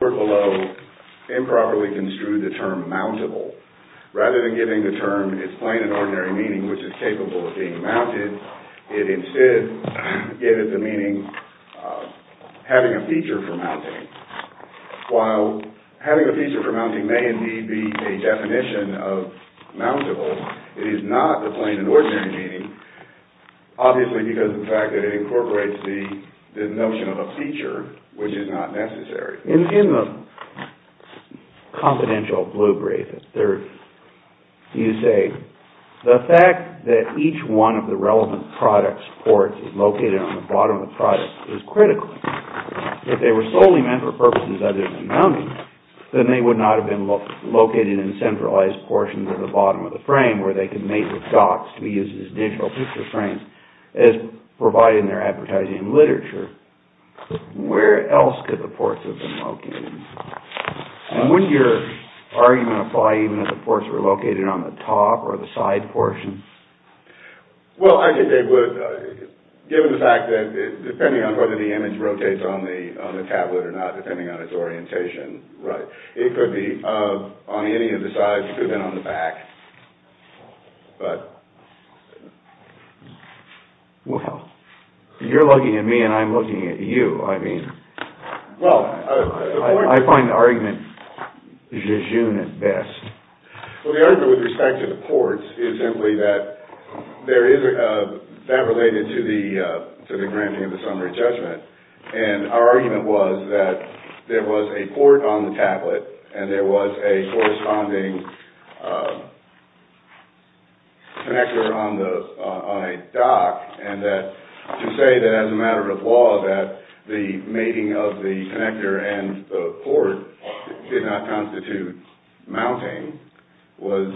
The report below improperly construed the term mountable. Rather than giving the term its plain and ordinary meaning, which is capable of being mounted, it instead gave it the meaning of having a feature for mounting. While having a feature for mounting may indeed be a definition of mountable, it is not the plain and ordinary meaning, obviously because of the fact that it incorporates the notion of a feature, which is not necessary. In the confidential blue brief, you say, the fact that each one of the relevant product's ports is located on the bottom of the product is critical. If they were solely meant for purposes other than mounting, then they would not have been located in centralized portions at the bottom of the frame where they could mate with dots to be used as digital picture frames, as provided in their advertising literature. Where else could the ports have been located? And wouldn't your argument apply even if the ports were located on the top or the side portion? Well, I think they would, given the fact that, depending on whether the image rotates on the tablet or not, depending on its orientation, it could be on any of the sides. It could have been on the back. Well, you're looking at me and I'm looking at you. I mean, I find the argument je jeune at best. Well, the argument with respect to the ports is simply that that related to the granting of the summary judgment. And our argument was that there was a port on the tablet and there was a corresponding connector on a dock, and to say that as a matter of law that the mating of the connector and the port did not constitute mounting was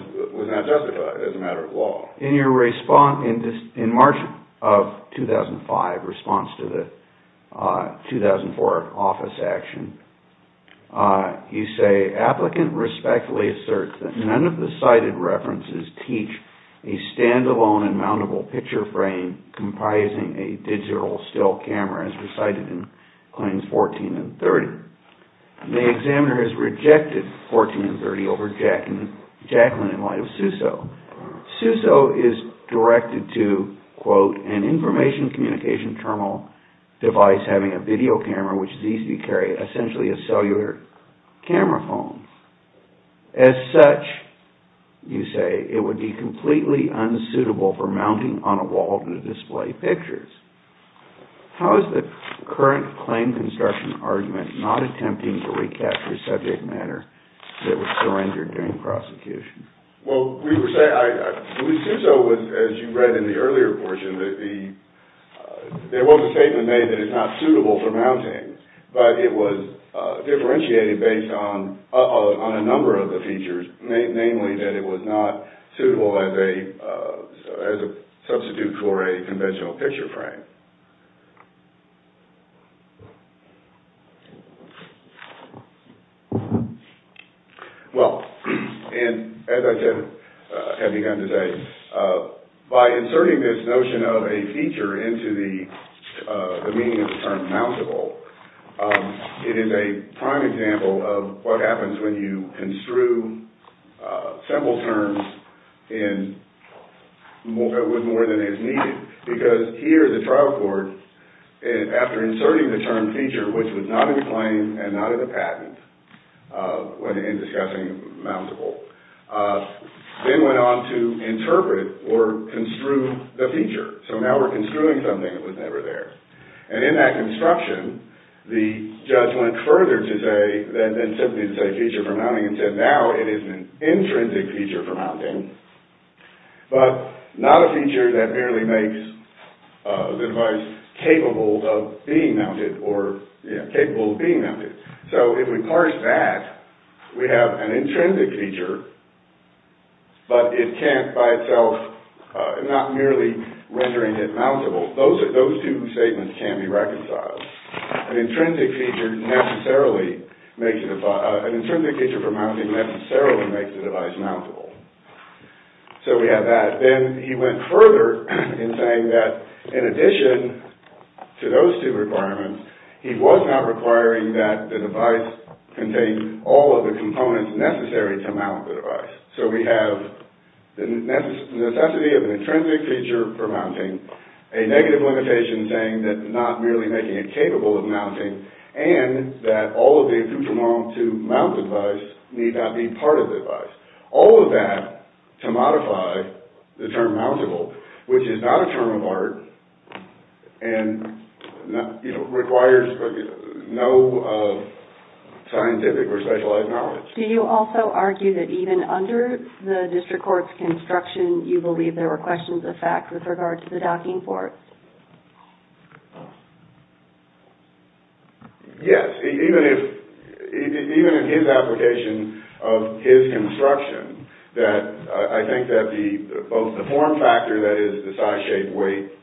not justified as a matter of law. In your response in March of 2005, response to the 2004 office action, you say, Applicant respectfully asserts that none of the cited references teach a stand-alone and mountable picture frame comprising a digital still camera, as recited in claims 14 and 30. The examiner has rejected 14 and 30 over Jacqueline in light of Suso. Suso is directed to, quote, an information communication terminal device having a video camera, which needs to carry essentially a cellular camera phone. As such, you say, it would be completely unsuitable for mounting on a wall to display pictures. How is the current claim construction argument not attempting to recapture subject matter that was surrendered during prosecution? Well, we were saying, Suso was, as you read in the earlier portion, there was a statement made that it's not suitable for mounting, but it was differentiated based on a number of the features, namely that it was not suitable as a substitute for a conventional picture frame. Well, and as I have begun to say, by inserting this notion of a feature into the meaning of the term mountable, it is a prime example of what happens when you construe simple terms with more than is needed, because here the trial court, after inserting the term feature, which was not in the claim and not in the patent, when discussing mountable, then went on to interpret or construe the feature. So now we're construing something that was never there. And in that construction, the judge went further than simply to say feature for mounting and said now it is an intrinsic feature for mounting, but not a feature that merely makes the device capable of being mounted. So if we parse that, we have an intrinsic feature, but it can't by itself, not merely rendering it mountable. Those two statements can't be reconciled. An intrinsic feature for mounting necessarily makes the device mountable. So we have that. Then he went further in saying that in addition to those two requirements, he was not requiring that the device contain all of the components necessary to mount the device. So we have the necessity of an intrinsic feature for mounting, a negative limitation saying that not merely making it capable of mounting, and that all of the accoutrements to mount the device need not be part of the device. All of that to modify the term mountable, which is not a term of art and requires no scientific or specialized knowledge. Do you also argue that even under the district court's construction, you believe there were questions of fact with regard to the docking port? Yes. Even in his application of his construction, I think that both the form factor, that is, the size, shape, weight…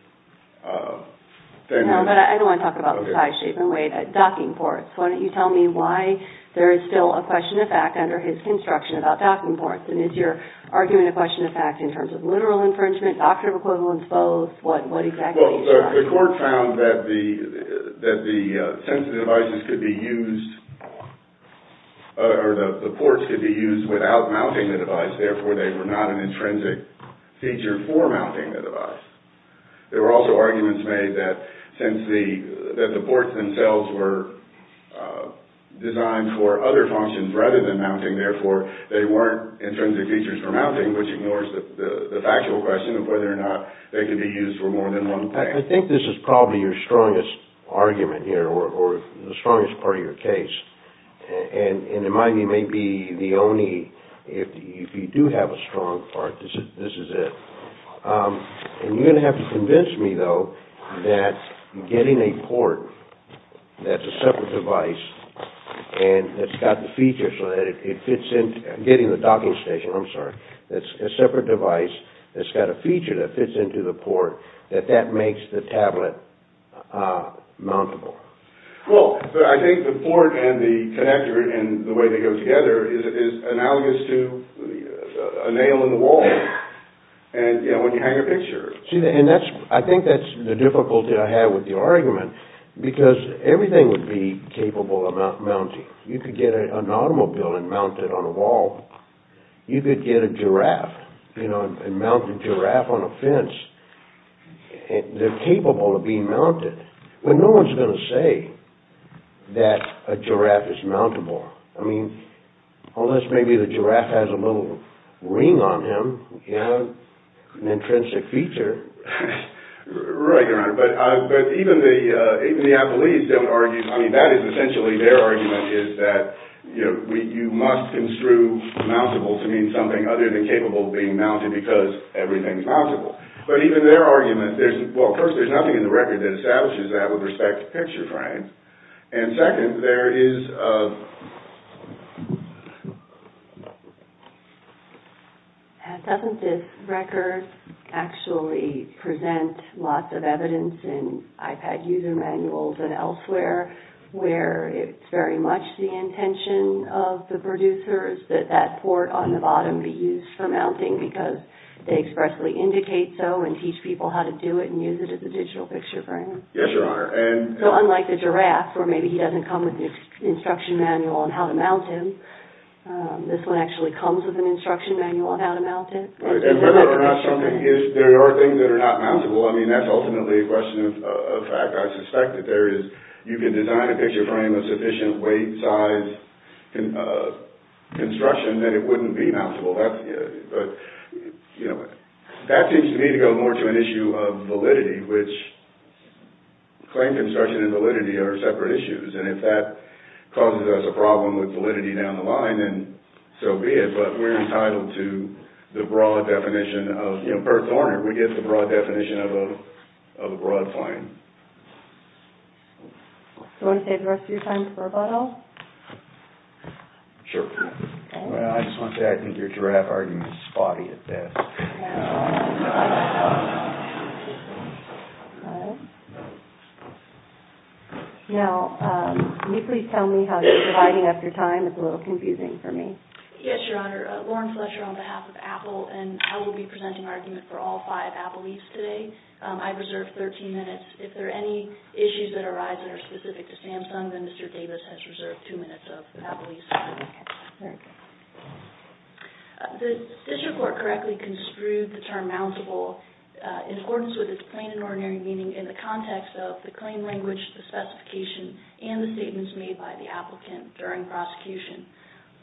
No, but I don't want to talk about the size, shape, and weight at docking ports. Why don't you tell me why there is still a question of fact under his construction about docking ports, and is your argument a question of fact in terms of literal infringement, doctrine of equivalence, both? What exactly is that? Well, the court found that the ports could be used without mounting the device, therefore they were not an intrinsic feature for mounting the device. There were also arguments made that since the ports themselves were designed for other functions rather than mounting, therefore they weren't intrinsic features for mounting, which ignores the factual question of whether or not they could be used for more than one thing. I think this is probably your strongest argument here, or the strongest part of your case. And in my view, maybe the only… if you do have a strong part, this is it. And you're going to have to convince me, though, that getting a port that's a separate device and that's got the feature so that it fits in… getting the docking station, I'm sorry, that's a separate device that's got a feature that fits into the port, that that makes the tablet mountable. Well, I think the port and the connector and the way they go together is analogous to a nail in the wall. And, you know, when you hang a picture… See, and I think that's the difficulty I have with your argument, because everything would be capable of mounting. You could get an automobile and mount it on a wall. You could get a giraffe, you know, and mount the giraffe on a fence. They're capable of being mounted. Well, no one's going to say that a giraffe is mountable. I mean, unless maybe the giraffe has a little ring on him, you know, an intrinsic feature. Right, Your Honor. But even the athletes don't argue… I mean, that is essentially their argument, is that, you know, you must construe mountable to mean something other than capable of being mounted, because everything's mountable. But even their argument, there's… well, first, there's nothing in the record that establishes that with respect to picture frames. And second, there is… Doesn't this record actually present lots of evidence in iPad user manuals and elsewhere where it's very much the intention of the producers that that port on the bottom be used for mounting, because they expressly indicate so and teach people how to do it and use it as a digital picture frame? Yes, Your Honor. So, unlike the giraffe, where maybe he doesn't come with an instruction manual on how to mount him, this one actually comes with an instruction manual on how to mount it. And whether or not something is… there are things that are not mountable. I mean, that's ultimately a question of fact. I suspect that there is… you can design a picture frame of sufficient weight, size, construction, that it wouldn't be mountable. But, you know, that seems to me to go more to an issue of validity, which claim construction and validity are separate issues. And if that causes us a problem with validity down the line, then so be it. But we're entitled to the broad definition of… You know, Perth Warner, we get the broad definition of a broad claim. Do you want to save the rest of your time for rebuttal? Sure. Well, I just want to say I think your giraffe argument is spotty at best. Now, can you please tell me how you're dividing up your time? It's a little confusing for me. Yes, Your Honor. Lauren Fletcher on behalf of Apple, and I will be presenting argument for all five Appleese today. I reserve 13 minutes. If there are any issues that arise that are specific to Samsung, then Mr. Davis has reserved two minutes of Appleese time. The district court correctly construed the term mountable in accordance with its plain and ordinary meaning in the context of the claim language, the specification, and the statements made by the applicant during prosecution.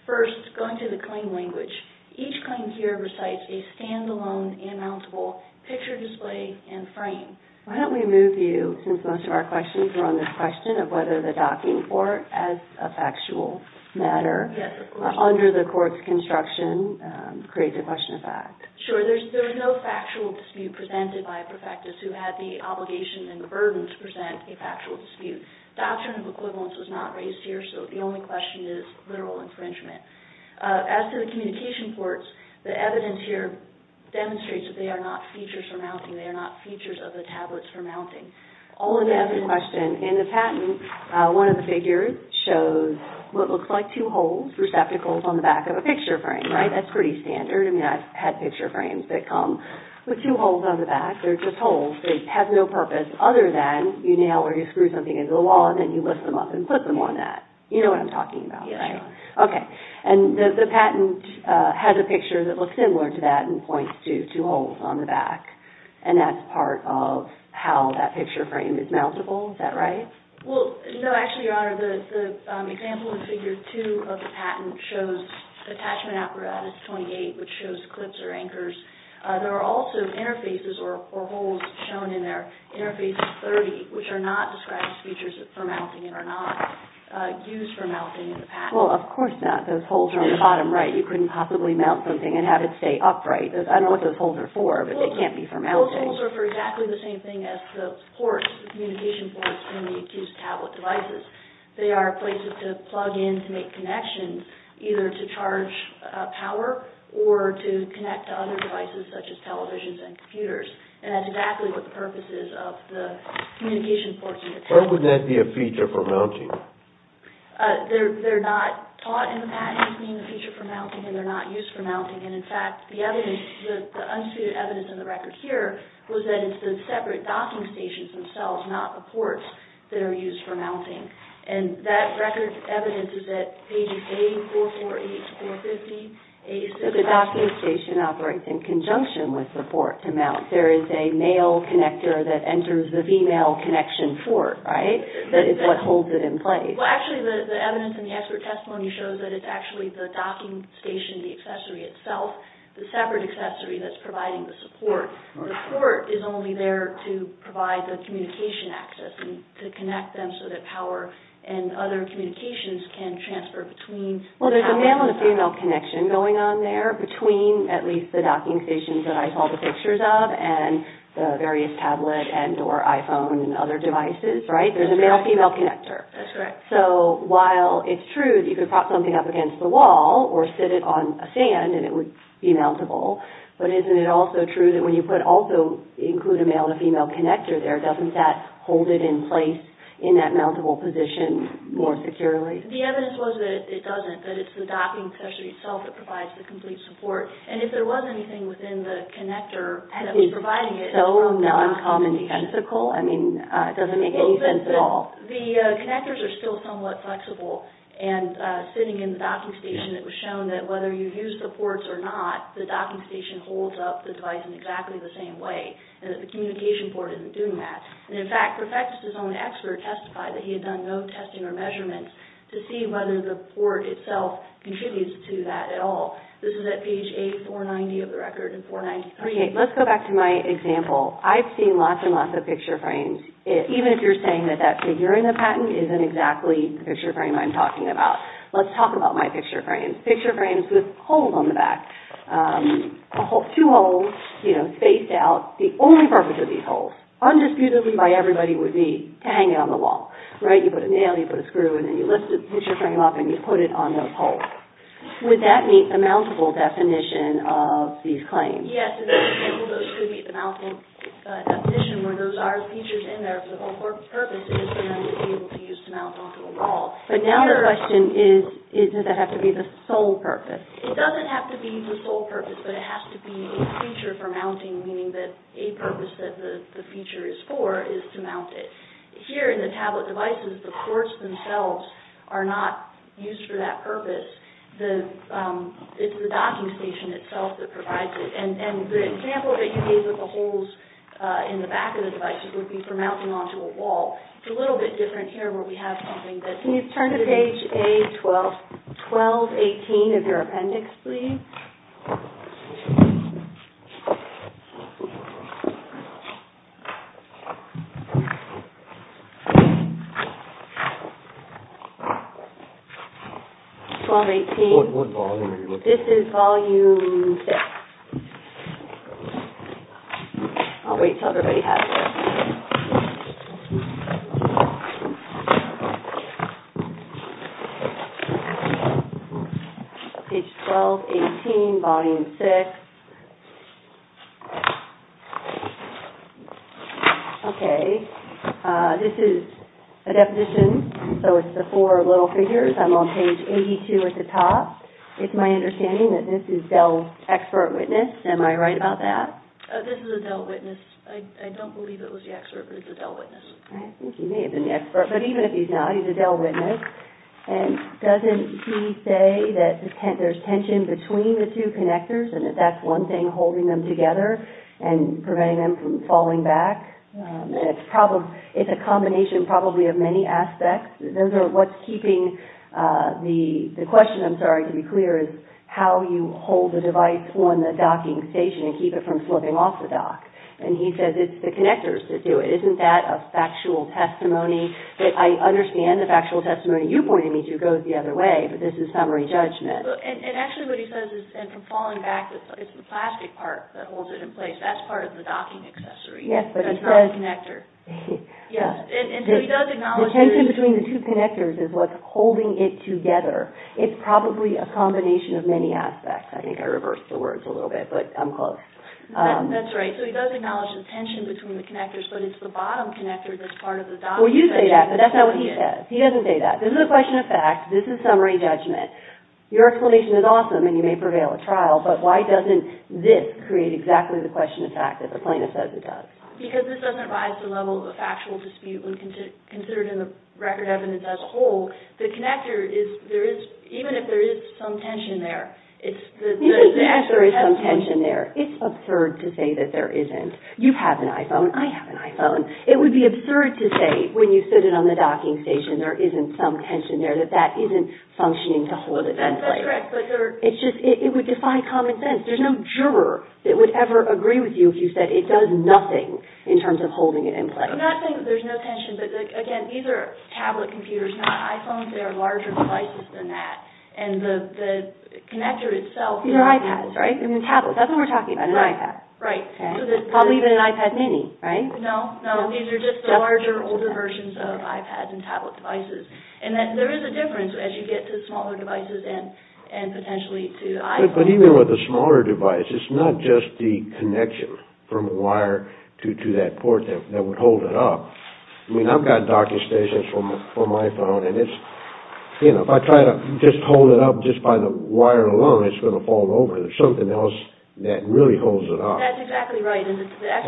First, going to the claim language, each claim here recites a standalone and mountable picture display and frame. Why don't we move you, since most of our questions were on this question of whether the docking port as a factual matter under the court's construction creates a question of fact. Sure. There is no factual dispute presented by a perfectus who had the obligation and the burden to present a factual dispute. Doctrine of equivalence was not raised here, so the only question is literal infringement. As for the communication ports, the evidence here demonstrates that they are not features for mounting. They are not features of the tablets for mounting. All in all, the question in the patent, one of the figures shows what looks like two holes, receptacles on the back of a picture frame. That's pretty standard. I've had picture frames that come with two holes on the back. They're just holes. They have no purpose other than you nail or you screw something into the wall, and then you lift them up and put them on that. You know what I'm talking about, right? The patent has a picture that looks similar to that and points to two holes on the back, and that's part of how that picture frame is mountable. Is that right? No, actually, Your Honor, the example in Figure 2 of the patent shows attachment apparatus 28, which shows clips or anchors. There are also interfaces or holes shown in there, interfaces 30, which are not described as features for mounting and are not used for mounting in the patent. Well, of course not. Those holes are on the bottom right. You couldn't possibly mount something and have it stay upright. I don't know what those holes are for, but they can't be for mounting. Those holes are for exactly the same thing as the ports, the communication ports in the accused tablet devices. They are places to plug in to make connections, either to charge power or to connect to other devices, such as televisions and computers. And that's exactly what the purpose is of the communication ports in the tablet. Why would that be a feature for mounting? They're not taught in the patent as being a feature for mounting, and they're not used for mounting. And, in fact, the evidence, the unsuited evidence in the record here, was that it's the separate docking stations themselves, not the ports, that are used for mounting. And that record evidence is at pages A448 to 450. So the docking station operates in conjunction with the port to mount. There is a male connector that enters the female connection port, right? That is what holds it in place. Well, actually, the evidence in the expert testimony shows that it's actually the docking station, the accessory itself, the separate accessory that's providing the support. The port is only there to provide the communication access, and to connect them so that power and other communications can transfer between. Well, there's a male and a female connection going on there, between at least the docking stations that I saw the pictures of, and the various tablet and or iPhone and other devices, right? There's a male-female connector. That's correct. So, while it's true that you could prop something up against the wall, or sit it on a stand, and it would be mountable, but isn't it also true that when you put, also include a male and a female connector there, doesn't that hold it in place in that mountable position more securely? The evidence was that it doesn't, that it's the docking accessory itself that provides the complete support. And if there was anything within the connector that was providing it, Is it so non-communicatical? I mean, it doesn't make any sense at all. The connectors are still somewhat flexible, and sitting in the docking station, it was shown that whether you use the ports or not, the docking station holds up the device in exactly the same way, and that the communication port isn't doing that. And in fact, Refectus' own expert testified that he had done no testing or measurements to see whether the port itself contributes to that at all. This is at page 8, 490 of the record. Let's go back to my example. I've seen lots and lots of picture frames. Even if you're saying that that figure in the patent isn't exactly the picture frame I'm talking about, let's talk about my picture frames. Picture frames with holes on the back. Two holes spaced out. The only purpose of these holes, undisputedly by everybody, would be to hang it on the wall. You put a nail, you put a screw, and then you lift the picture frame up, and you put it on those holes. Would that meet the mountable definition of these claims? Yes, those could meet the mountable definition, where those are the features in there, but the whole purpose is for them to be able to use to mount onto a wall. But now the question is, does that have to be the sole purpose? It doesn't have to be the sole purpose, but it has to be a feature for mounting, meaning that a purpose that the feature is for is to mount it. Here in the tablet devices, the ports themselves are not used for that purpose. It's the docking station itself that provides it. And the example that you gave of the holes in the back of the devices would be for mounting onto a wall. It's a little bit different here where we have something that's— Can you turn to page A1218 of your appendix, please? Page A1218, volume 6. What volume are you looking at? This is volume 6. I'll wait until everybody has it. Page A1218, volume 6. Okay. This is a definition, so it's the four little figures. I'm on page 82 at the top. It's my understanding that this is Dell Expert Witness. Am I right about that? I don't believe it was a Dell Witness. I think he may have been the expert, but even if he's not, he's a Dell Witness. And doesn't he say that there's tension between the two connectors and that that's one thing holding them together and preventing them from falling back? It's a combination probably of many aspects. What's keeping—the question, I'm sorry, to be clear, is how you hold the device on the docking station and keep it from slipping off the dock. And he says it's the connectors that do it. Isn't that a factual testimony? I understand the factual testimony you pointed me to goes the other way, but this is summary judgment. And actually what he says is, and from falling back, it's the plastic part that holds it in place. That's part of the docking accessory. Yes, but he says— That's not the connector. Yes. And so he does acknowledge there is— The tension between the two connectors is what's holding it together. It's probably a combination of many aspects. I think I reversed the words a little bit, but I'm close. That's right. So he does acknowledge the tension between the connectors, but it's the bottom connector that's part of the docking accessory. Well, you say that, but that's not what he says. He doesn't say that. This is a question of fact. This is summary judgment. Your explanation is awesome, and you may prevail at trial, but why doesn't this create exactly the question of fact that the plaintiff says it does? Because this doesn't rise to the level of a factual dispute when considered in the record evidence as a whole. The connector is—even if there is some tension there, it's the— Even if there is some tension there, it's absurd to say that there isn't. You have an iPhone. I have an iPhone. It would be absurd to say when you sit it on the docking station there isn't some tension there, that that isn't functioning to hold it in place. That's correct, but there— It's just—it would defy common sense. There's no juror that would ever agree with you if you said it does nothing in terms of holding it in place. I'm not saying that there's no tension, but, again, these are tablet computers, not iPhones. They are larger devices than that, and the connector itself— These are iPads, right? I mean, tablets. That's what we're talking about, an iPad. Right. Probably even an iPad mini, right? No, no. These are just the larger, older versions of iPads and tablet devices. And there is a difference as you get to smaller devices and potentially to iPhones. But even with a smaller device, it's not just the connection from a wire to that port that would hold it up. I mean, I've got docking stations for my phone, and it's— There's something else that really holds it up. That's exactly right.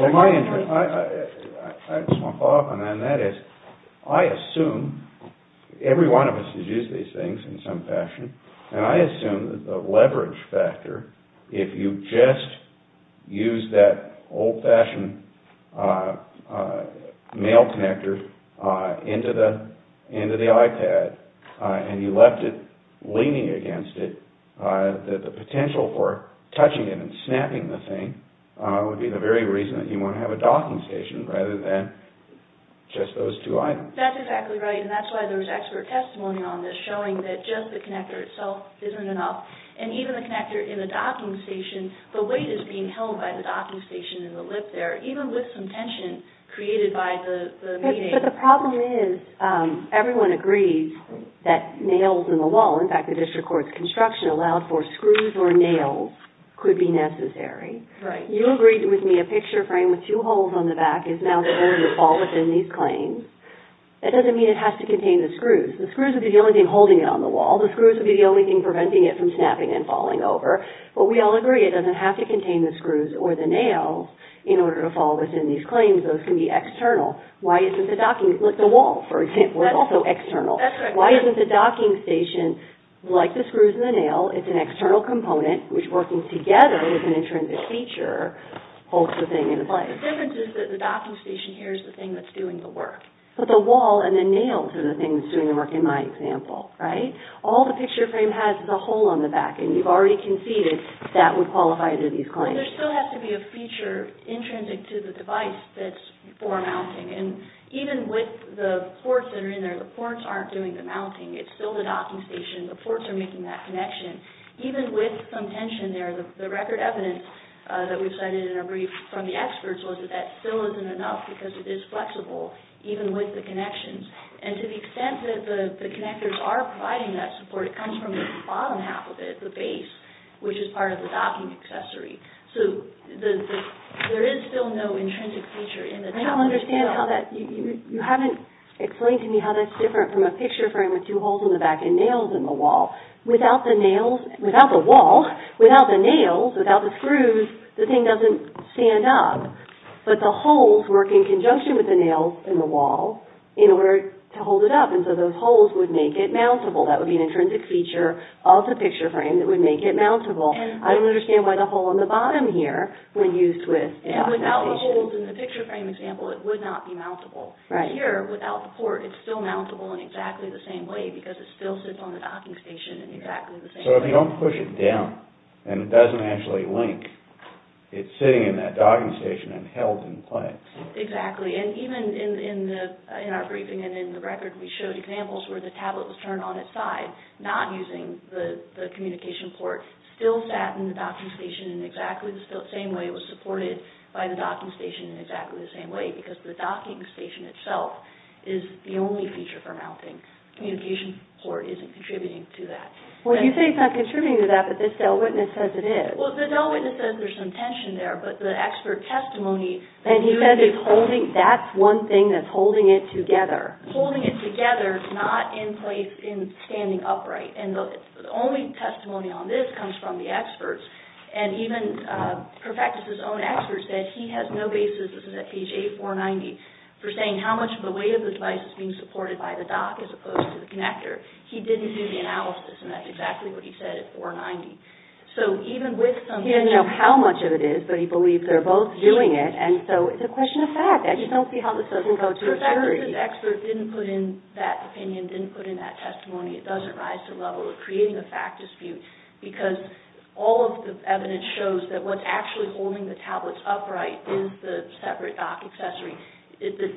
Well, my interest—I just want to follow up on that, and that is, I assume— every one of us has used these things in some fashion, and I assume that the leverage factor, if you just use that old-fashioned male connector into the iPad, and you left it leaning against it, that the potential for touching it and snapping the thing would be the very reason that you want to have a docking station, rather than just those two items. That's exactly right, and that's why there was expert testimony on this, showing that just the connector itself isn't enough. And even the connector in the docking station, the weight is being held by the docking station in the lip there, even with some tension created by the— But the problem is, everyone agrees that nails in the wall— in fact, the district court's construction allowed for screws or nails—could be necessary. Right. You agreed with me a picture frame with two holes on the back is now the area to fall within these claims. That doesn't mean it has to contain the screws. The screws would be the only thing holding it on the wall. The screws would be the only thing preventing it from snapping and falling over. But we all agree it doesn't have to contain the screws or the nails in order to fall within these claims. Those can be external. Why isn't the docking—look, the wall, for example, is also external. That's right. Why isn't the docking station, like the screws and the nail, it's an external component, which working together as an intrinsic feature, holds the thing into place? The difference is that the docking station here is the thing that's doing the work. But the wall and the nails are the things doing the work in my example, right? All the picture frame has is a hole on the back, and you've already conceded that would qualify to these claims. And there still has to be a feature intrinsic to the device that's for mounting. And even with the ports that are in there, the ports aren't doing the mounting. It's still the docking station. The ports are making that connection. Even with some tension there, the record evidence that we've cited in our brief from the experts was that that still isn't enough because it is flexible, even with the connections. And to the extent that the connectors are providing that support, it comes from the bottom half of it, the base, which is part of the docking accessory. So there is still no intrinsic feature in the top of the wall. I don't understand how that... You haven't explained to me how that's different from a picture frame with two holes in the back and nails in the wall. Without the nails, without the wall, without the nails, without the screws, the thing doesn't stand up. But the holes work in conjunction with the nails in the wall in order to hold it up. And so those holes would make it mountable. That would be an intrinsic feature of the picture frame that would make it mountable. I don't understand why the hole in the bottom here would be used with... Without the holes in the picture frame example, it would not be mountable. Here, without the port, it's still mountable in exactly the same way because it still sits on the docking station in exactly the same way. So if you don't push it down and it doesn't actually link, it's sitting in that docking station and held in place. Exactly. And even in our briefing and in the record, we showed examples where the tablet was turned on its side, not using the communication port, still sat in the docking station in exactly the same way. It was supported by the docking station in exactly the same way because the docking station itself is the only feature for mounting. Communication port isn't contributing to that. Well, you say it's not contributing to that, but this Dell witness says it is. Well, the Dell witness says there's some tension there, but the expert testimony... And he says that's one thing that's holding it together. ...holding it together, not in place in standing upright. And the only testimony on this comes from the experts. And even Perfectus' own expert said he has no basis, this is at page 8, 490, for saying how much of the weight of the device is being supported by the dock as opposed to the connector. He didn't do the analysis, and that's exactly what he said at 490. So even with some tension... He doesn't know how much of it is, but he believes they're both doing it, and so it's a question of fact. I just don't see how this doesn't go to a jury. Perfectus' expert didn't put in that opinion, didn't put in that testimony. It doesn't rise to the level of creating a fact dispute because all of the evidence shows that what's actually holding the tablets upright is the separate dock accessory.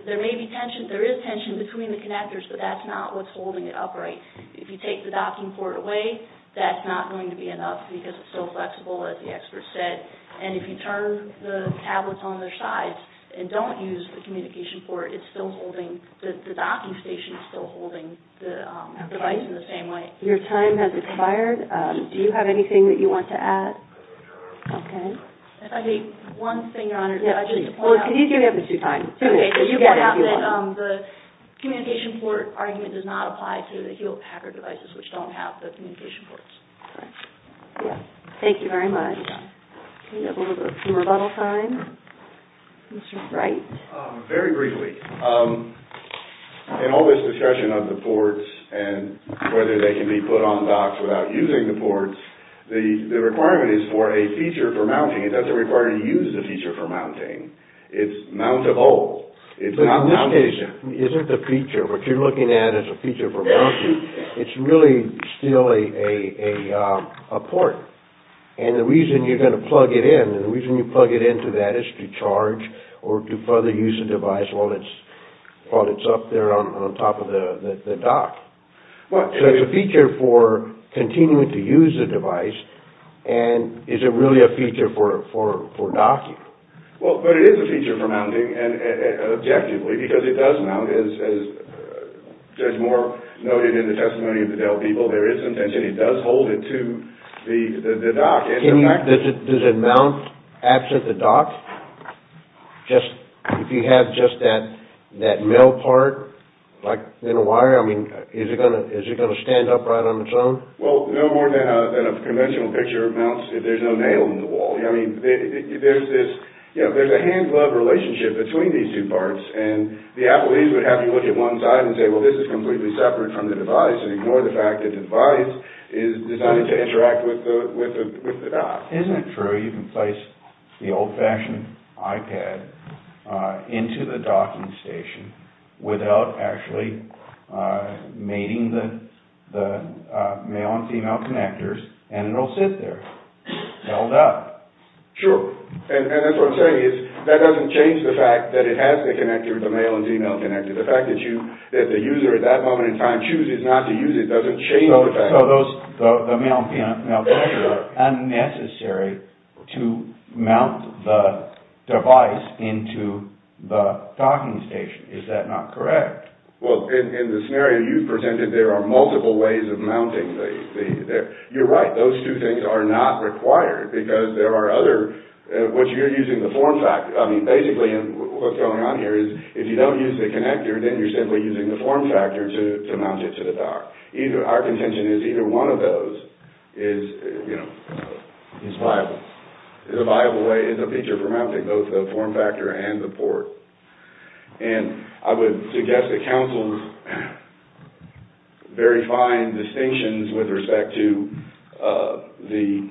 There may be tension, there is tension between the connectors, but that's not what's holding it upright. If you take the docking port away, that's not going to be enough because it's so flexible, as the expert said. And if you turn the tablets on their sides and don't use the communication port, it's still holding, the docking station is still holding the device in the same way. Your time has expired. Do you have anything that you want to add? Okay. If I may, one thing, Your Honor. Well, can you give me up to two minutes? The communication port argument does not apply to the Hewlett Packard devices which don't have the communication ports. Thank you very much. Can we have a little bit of some rebuttal time? Mr. Bright. Very briefly, in all this discussion of the ports and whether they can be put on docks without using the ports, the requirement is for a feature for mounting. It doesn't require you to use the feature for mounting. It's mountable. In this case, it isn't the feature. What you're looking at is a feature for mounting. It's really still a port. And the reason you're going to plug it in, and the reason you plug it into that is to charge or to further use the device while it's up there on top of the dock. So it's a feature for continuing to use the device, and is it really a feature for docking? Well, but it is a feature for mounting, objectively, because it does mount. As Judge Moore noted in the testimony of the Dell people, there is some tension. It does hold it to the dock. Does it mount absent the dock? If you have just that male part, like in a wire, I mean, is it going to stand upright on its own? Well, no more than a conventional picture mounts if there's no nail in the wall. I mean, there's a hand-glove relationship between these two parts, and the appellees would have you look at one side and say, well, this is completely separate from the device and ignore the fact that the device is designed to interact with the dock. Isn't it true you can place the old-fashioned iPad into the docking station without actually mating the male and female connectors, and it'll sit there held up? Sure. And that's what I'm saying is that doesn't change the fact that it has to connect to the male and female connector. The fact that the user at that moment in time chooses not to use it doesn't change the fact. So the male and female connectors are unnecessary to mount the device into the docking station. Is that not correct? Well, in the scenario you presented, there are multiple ways of mounting. You're right. Those two things are not required because there are other, which you're using the form factor. I mean, basically what's going on here is if you don't use the connector, then you're simply using the form factor to mount it to the dock. Our contention is either one of those is a viable way, is a feature for mounting both the form factor and the port. And I would suggest that council's very fine distinctions with respect to the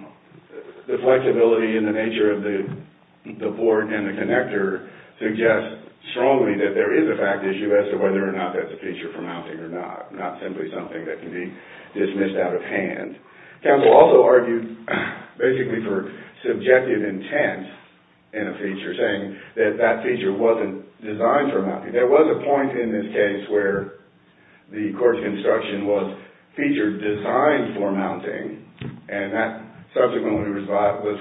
form factor suggest strongly that there is a fact issue as to whether or not that's a feature for mounting or not, not simply something that can be dismissed out of hand. Council also argued basically for subjective intent in a feature, saying that that feature wasn't designed for mounting. There was a point in this case where the course of instruction was feature designed for mounting, and that subsequently was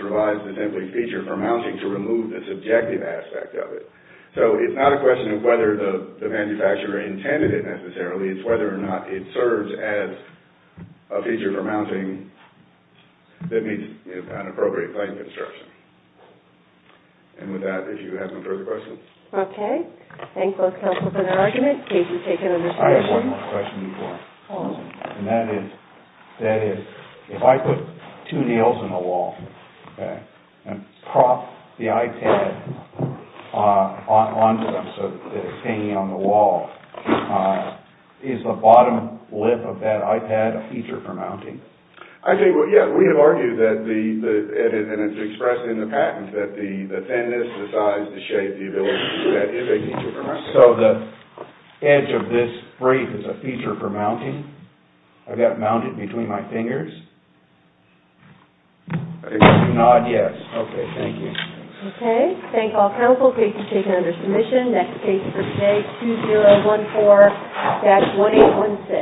revised to simply feature for mounting to remove the subjective aspect of it. So it's not a question of whether the manufacturer intended it necessarily. It's whether or not it serves as a feature for mounting that meets an appropriate claim construction. And with that, if you have no further questions. Okay. Thanks both council for that argument. Katie, take it away. I have one more question before I close. And that is, if I put two nails in the wall, and prop the iPad onto them so that it's hanging on the wall, is the bottom lip of that iPad a feature for mounting? I think, well, yeah, we have argued that, and it's expressed in the patent, that the thinness, the size, the shape, the ability to do that is a feature for mounting. So the edge of this brief is a feature for mounting? I've got it mounted between my fingers? If not, yes. Okay. Thank you. Okay. Thanks all council. Katie's taken under submission. Next case for today, 2014-1816.